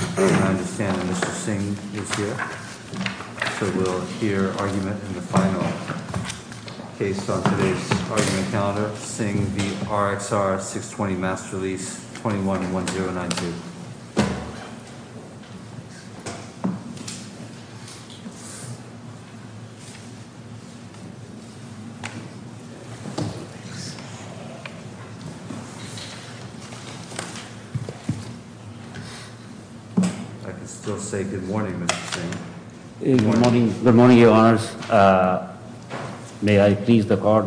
I understand Mr. Singh is here. So we'll hear argument in the final case on today's argument calendar. Singh v. Rxr 620 Mass Release 21-1092. I can still say good morning, Mr. Singh. Good morning, Your Honors. May I please the court?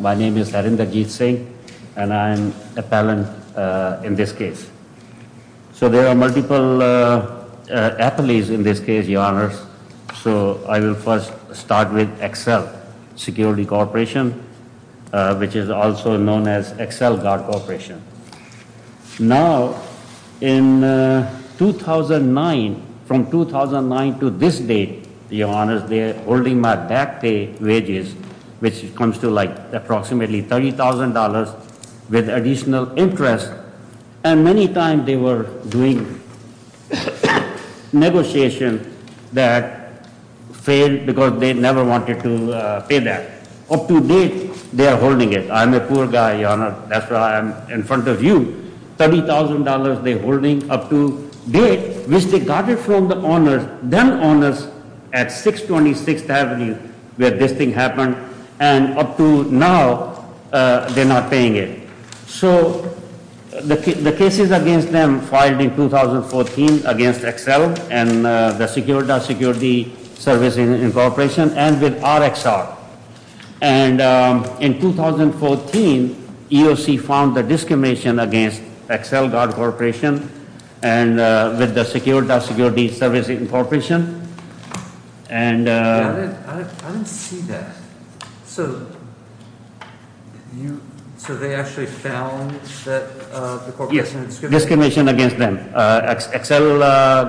My name is Harinderjit Singh, and I am appellant in this case. So there are multiple affilies in this case, Your Honors. So I will first start with Excel Security Corporation, which is also known as Excel Guard Corporation. Now, in 2009, from 2009 to this date, Your Honors, they are holding my back pay wages, which comes to like approximately $30,000 with additional interest. And many times they were doing negotiations that failed because they never wanted to pay that. Up to date, they are holding it. I'm a poor guy, Your Honors. That's why I'm in front of you. $30,000 they're holding up to date, which they got it from the owners, them owners, at 626th Avenue where this thing happened. And up to now, they're not paying it. So the cases against them filed in 2014 against Excel and the Security Service Incorporation and with Rxr. And in 2014, EOC found the discrimination against Excel Guard Corporation and with the Security Service Incorporation. I didn't see that. So they actually found the corporation discrimination? Yes, discrimination against them. Excel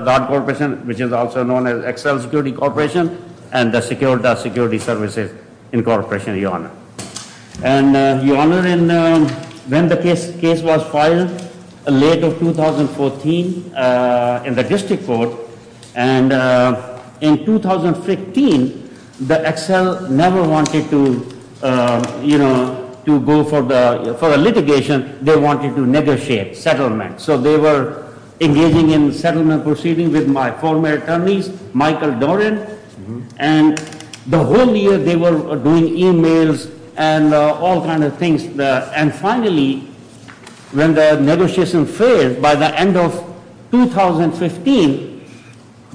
Guard Corporation, which is also known as Excel Security Corporation, and the Security Services Incorporation, Your Honor. And Your Honor, when the case was filed late of 2014 in the district court, and in 2015, the Excel never wanted to go for the litigation. They wanted to negotiate settlement. So they were engaging in settlement proceedings with my former attorneys, Michael Doran. And the whole year, they were doing e-mails and all kinds of things. And finally, when the negotiation failed, by the end of 2015,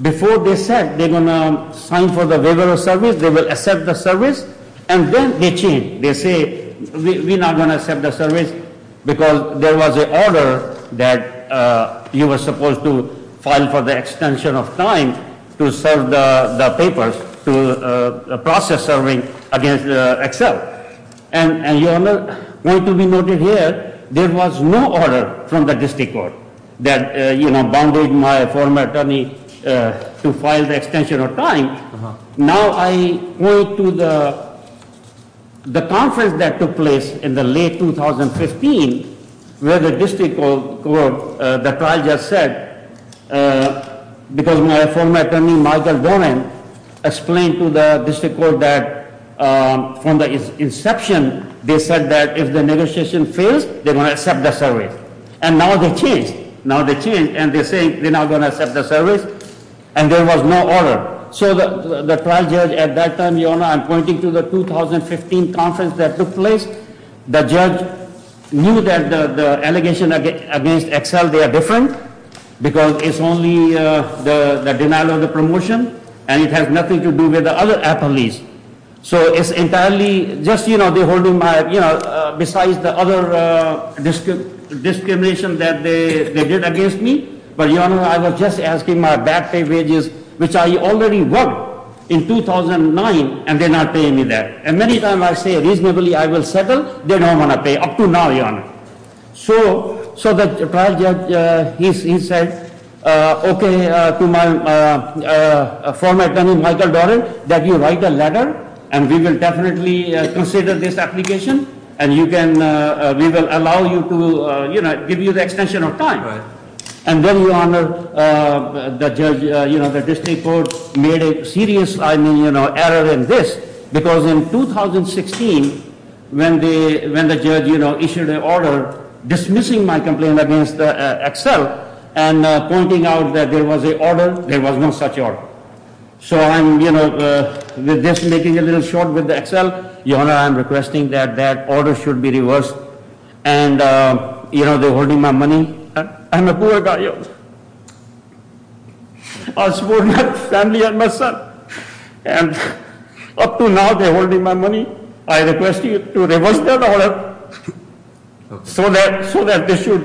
before they said they were going to sign for the waiver of service, they would accept the service. And then they changed. They say, we're not going to accept the service because there was an order that you were supposed to file for the extension of time to serve the papers, to process serving against Excel. And Your Honor, going to be noted here, there was no order from the district court that bounded my former attorney to file the extension of time. Now I go to the conference that took place in the late 2015, where the district court that I just said, because my former attorney, Michael Doran, explained to the district court that from the inception, they said that if the negotiation fails, they're going to accept the service. And now they changed. Now they changed, and they're saying they're not going to accept the service, and there was no order. So the trial judge at that time, Your Honor, I'm pointing to the 2015 conference that took place. The judge knew that the allegation against Excel, they are different, because it's only the denial of the promotion, and it has nothing to do with the other attorneys. So it's entirely, just the holding my, besides the other discrimination that they did against me. But Your Honor, I was just asking my bad pay wages, which I already worked in 2009, and they're not paying me that. And many times I say, reasonably, I will settle. They don't want to pay, up to now, Your Honor. So the trial judge, he said, okay, to my former attorney, Michael Doran, that you write a letter, and we will definitely consider this application, and we will allow you to, you know, give you the extension of time. And then, Your Honor, the judge, you know, the district court made a serious, I mean, you know, error in this, because in 2016, when the judge, you know, issued an order dismissing my complaint against Excel and pointing out that there was an order, there was no such order. So I'm, you know, just making a little shot with Excel. Your Honor, I'm requesting that that order should be reversed. And, you know, they're holding my money. I'm a poor guy. I support my family and my son. And up to now, they're holding my money. I request you to reverse that order so that they should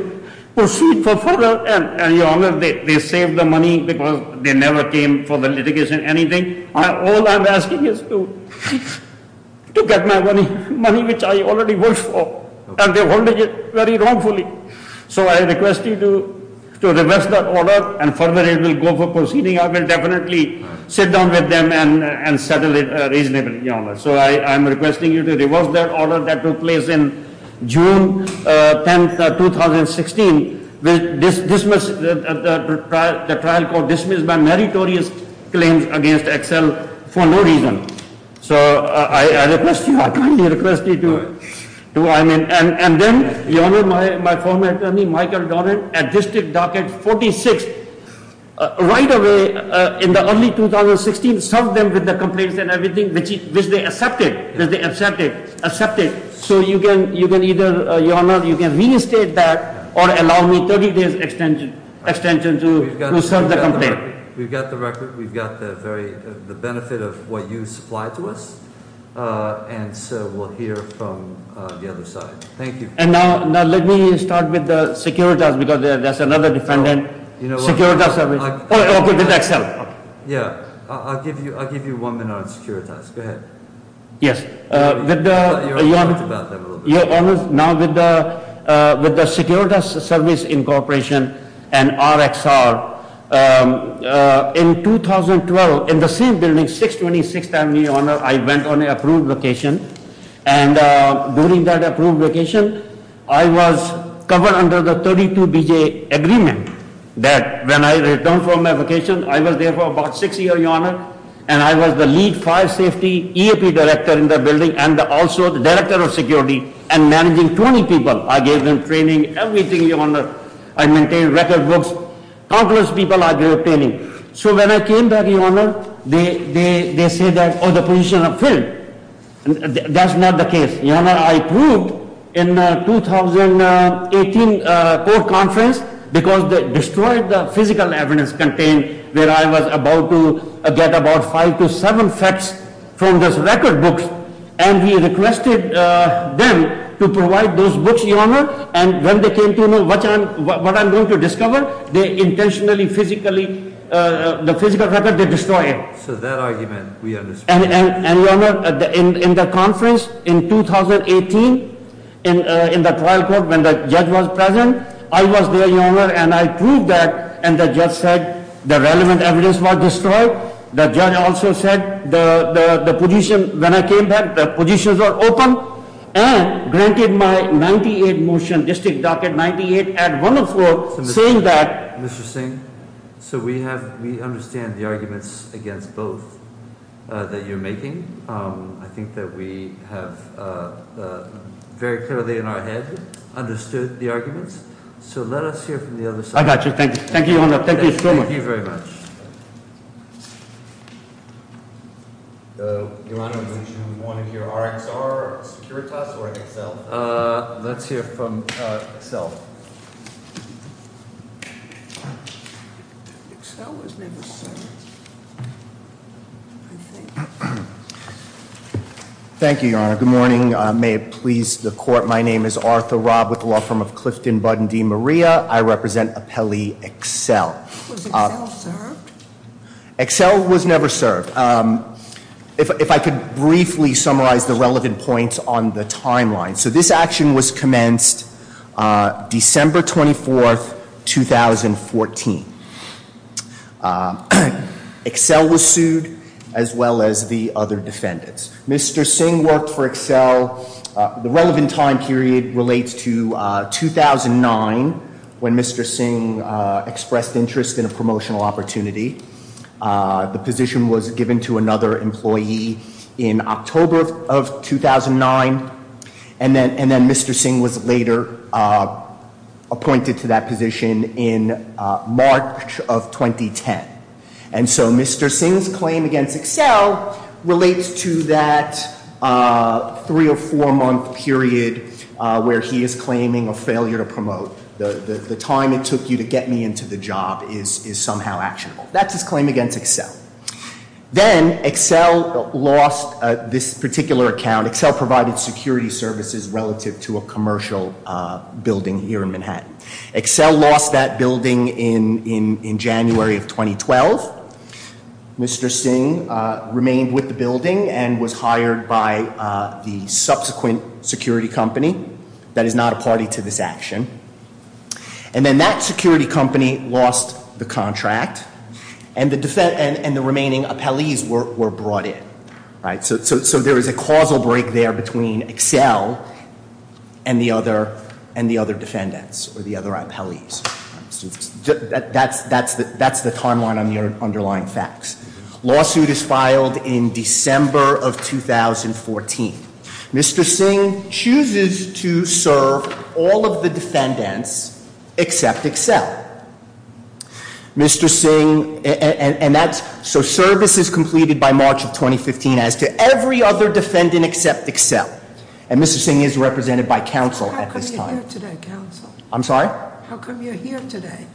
proceed for further. And, Your Honor, they saved the money because they never came for the litigation, anything. All I'm asking is to get my money, money which I already worked for. And they're holding it very wrongfully. So I request you to reverse that order, and further it will go for proceeding. I will definitely sit down with them and settle it reasonably, Your Honor. So I'm requesting you to reverse that order that took place in June 10, 2016. The trial court dismissed my meritorious claims against Excel for no reason. So I request you, I kindly request you to, I mean. And then, Your Honor, my former attorney, Michael Dornan, at District Docket 46, right away, in the early 2016, served them with the complaints and everything, which they accepted. They accepted. So you can either, Your Honor, you can reinstate that or allow me 30 days extension to serve the complaint. We've got the record. We've got the benefit of what you supplied to us. And so we'll hear from the other side. Thank you. And now let me start with the Securitas, because that's another defendant. Securitas service. Oh, okay, with Excel. Yeah, I'll give you one minute on Securitas. Go ahead. Yes. Your Honor, now with the Securitas Service Incorporation and RXR, in 2012, in the same building, 626th Avenue, Your Honor, I went on an approved location. And during that approved location, I was covered under the 32BJ agreement that when I returned from my vacation, I was there for about six years, Your Honor. And I was the lead fire safety EAP director in the building and also the director of security and managing 20 people. I gave them training, everything, Your Honor. I maintained record books. Countless people I gave training. So when I came back, Your Honor, they said that, oh, the position is filled. That's not the case. Your Honor, I proved in the 2018 court conference, because they destroyed the physical evidence contained, where I was about to get about five to seven facts from those record books. And when they came to know what I'm going to discover, they intentionally, physically, the physical record, they destroyed it. So that argument, we understand. And, Your Honor, in the conference in 2018, in the trial court, when the judge was present, I was there, Your Honor, and I proved that. And the judge said the relevant evidence was destroyed. The judge also said the position, when I came back, the positions were open. And granted my 98 motion, district docket 98, ad 104, saying that. Mr. Singh, so we understand the arguments against both that you're making. I think that we have very clearly in our head understood the arguments. So let us hear from the other side. I got you. Thank you, Your Honor. Thank you so much. Thank you very much. Your Honor, would you want to hear RxR, Securitas, or Excel? Let's hear from Excel. Thank you, Your Honor. Good morning. May it please the court. My name is Arthur Robb with the law firm of Clifton Budden D. Maria. I represent appellee Excel. Was Excel served? Excel was never served. If I could briefly summarize the relevant points on the timeline. So this action was commenced December 24, 2014. Excel was sued, as well as the other defendants. Mr. Singh worked for Excel. The relevant time period relates to 2009 when Mr. Singh expressed interest in a promotional opportunity. The position was given to another employee in October of 2009. And then Mr. Singh was later appointed to that position in March of 2010. And so Mr. Singh's claim against Excel relates to that three or four month period where he is claiming a failure to promote. The time it took you to get me into the job is somehow actionable. That's his claim against Excel. Then Excel lost this particular account. Excel provided security services relative to a commercial building here in Manhattan. Excel lost that building in January of 2012. Mr. Singh remained with the building and was hired by the subsequent security company. That is not a party to this action. And then that security company lost the contract. And the remaining appellees were brought in. So there is a causal break there between Excel and the other defendants or the other appellees. That's the timeline on the underlying facts. Lawsuit is filed in December of 2014. Mr. Singh chooses to serve all of the defendants except Excel. Mr. Singh, and that's, so service is completed by March of 2015 as to every other defendant except Excel. And Mr. Singh is represented by counsel at this time. How come you're here today, counsel? I'm sorry? How come you're here today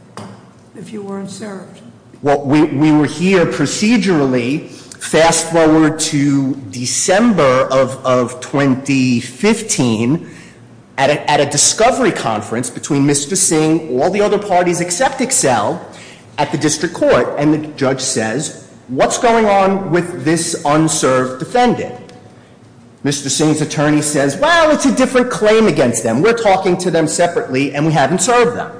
if you weren't served? Well, we were here procedurally. Fast forward to December of 2015 at a discovery conference between Mr. Singh, all the other parties except Excel, at the district court. And the judge says, what's going on with this unserved defendant? Mr. Singh's attorney says, well, it's a different claim against them. We're talking to them separately and we haven't served them.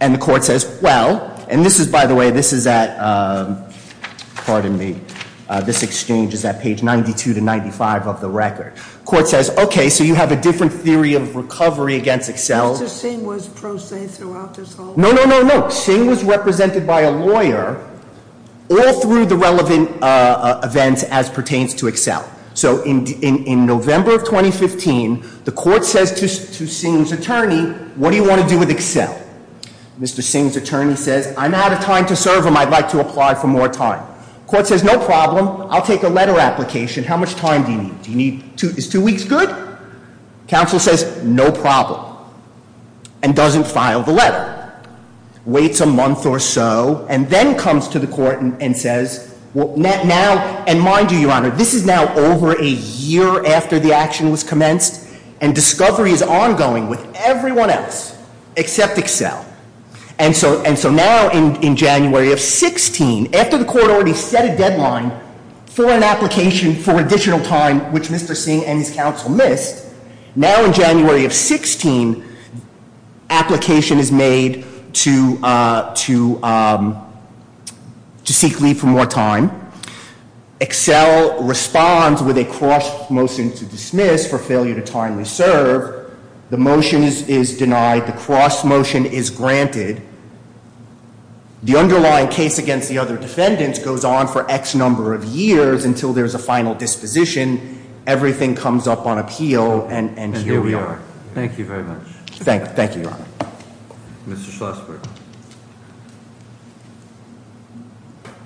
And the court says, well, and this is, by the way, this is at, pardon me, this exchange is at page 92 to 95 of the record. Court says, okay, so you have a different theory of recovery against Excel. Mr. Singh was pro se throughout this whole- No, no, no, no. Singh was represented by a lawyer all through the relevant events as pertains to Excel. So in November of 2015, the court says to Singh's attorney, what do you want to do with Excel? Mr. Singh's attorney says, I'm out of time to serve him. I'd like to apply for more time. Court says, no problem. I'll take a letter application. How much time do you need? Do you need, is two weeks good? Counsel says, no problem, and doesn't file the letter. Waits a month or so, and then comes to the court and says, now, and mind you, Your Honor, this is now over a year after the action was commenced, and discovery is ongoing with everyone else except Excel. And so now in January of 16, after the court already set a deadline for an application for additional time, which Mr. Singh and his counsel missed, now in January of 16, application is made to seek leave for more time. Excel responds with a cross motion to dismiss for failure to timely serve. The motion is denied. The cross motion is granted. The underlying case against the other defendants goes on for X number of years until there's a final disposition. Everything comes up on appeal, and here we are. And here we are. Thank you very much. Thank you, Your Honor. Mr. Schlossberg.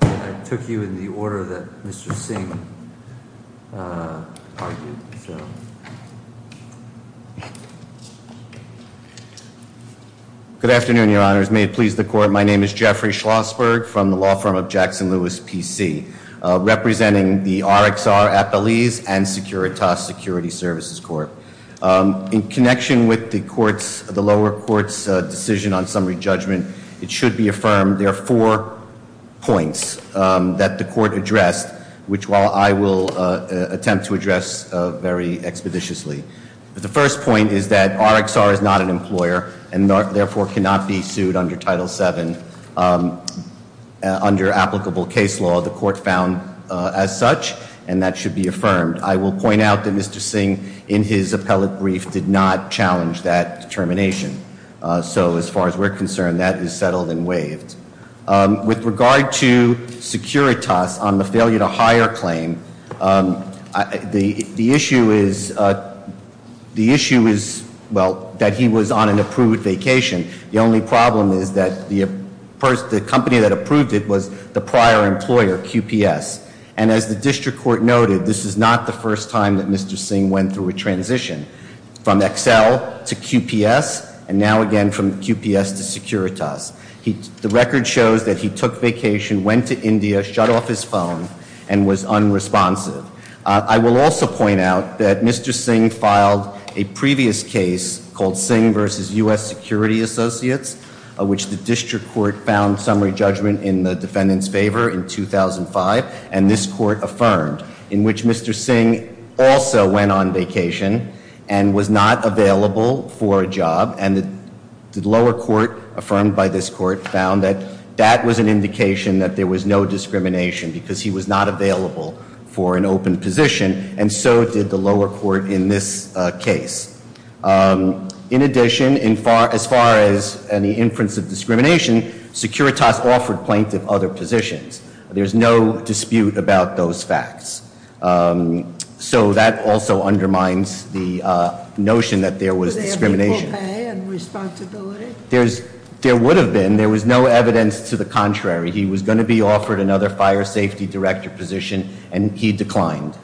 I took you in the order that Mr. Singh argued, so. Good afternoon, Your Honors. May it please the court. My name is Jeffrey Schlossberg from the law firm of Jackson-Lewis PC, representing the RXR Appellees and Securitas Security Services Court. In connection with the lower court's decision on summary judgment, it should be affirmed, there are four points that the court addressed, which I will attempt to address very expeditiously. But the first point is that RXR is not an employer, and therefore cannot be sued under Title VII. Under applicable case law, the court found as such, and that should be affirmed. I will point out that Mr. Singh, in his appellate brief, did not challenge that determination. So as far as we're concerned, that is settled and waived. With regard to Securitas on the failure to hire claim, the issue is, well, that he was on an approved vacation. The only problem is that the company that approved it was the prior employer, QPS. And as the district court noted, this is not the first time that Mr. Singh went through a transition from Excel to QPS, and now again from QPS to Securitas. The record shows that he took vacation, went to India, shut off his phone, and was unresponsive. I will also point out that Mr. Singh filed a previous case called Singh v. U.S. Security Associates, which the district court found summary judgment in the defendant's favor in 2005, and this court affirmed, in which Mr. Singh also went on vacation and was not available for a job. And the lower court, affirmed by this court, found that that was an indication that there was no discrimination because he was not available for an open position, and so did the lower court in this case. In addition, as far as any inference of discrimination, Securitas offered plaintiff other positions. There's no dispute about those facts. So that also undermines the notion that there was discrimination. Was there equal pay and responsibility? There would have been. There was no evidence to the contrary. He was going to be offered another fire safety director position, and he declined.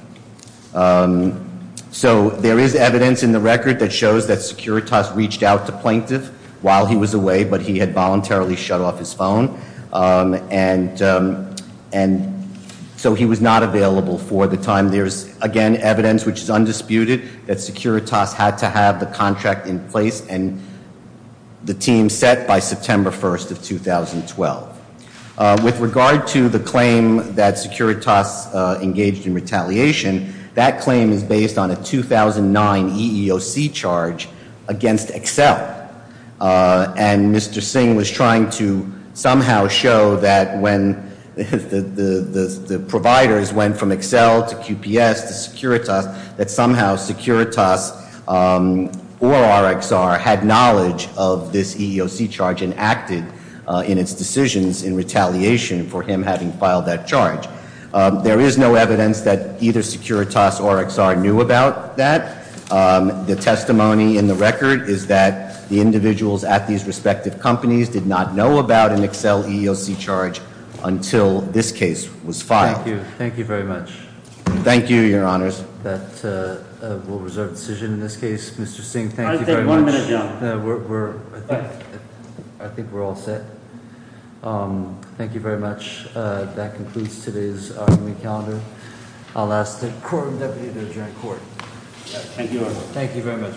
So there is evidence in the record that shows that Securitas reached out to plaintiff while he was away, but he had voluntarily shut off his phone, and so he was not available for the time. There's, again, evidence which is undisputed that Securitas had to have the contract in place and the team set by September 1st of 2012. With regard to the claim that Securitas engaged in retaliation, that claim is based on a 2009 EEOC charge against Excel. And Mr. Singh was trying to somehow show that when the providers went from Excel to QPS to Securitas, that somehow Securitas or RxR had knowledge of this EEOC charge and acted in its decisions in retaliation for him having filed that charge. There is no evidence that either Securitas or RxR knew about that. The testimony in the record is that the individuals at these respective companies did not know about an Excel EEOC charge until this case was filed. Thank you. Thank you very much. Thank you, your honors. That will reserve the decision in this case. Mr. Singh, thank you very much. I think we're all set. Thank you very much. That concludes today's argument calendar. I'll ask the court and deputy to adjourn court. Thank you, your honor. Thank you very much.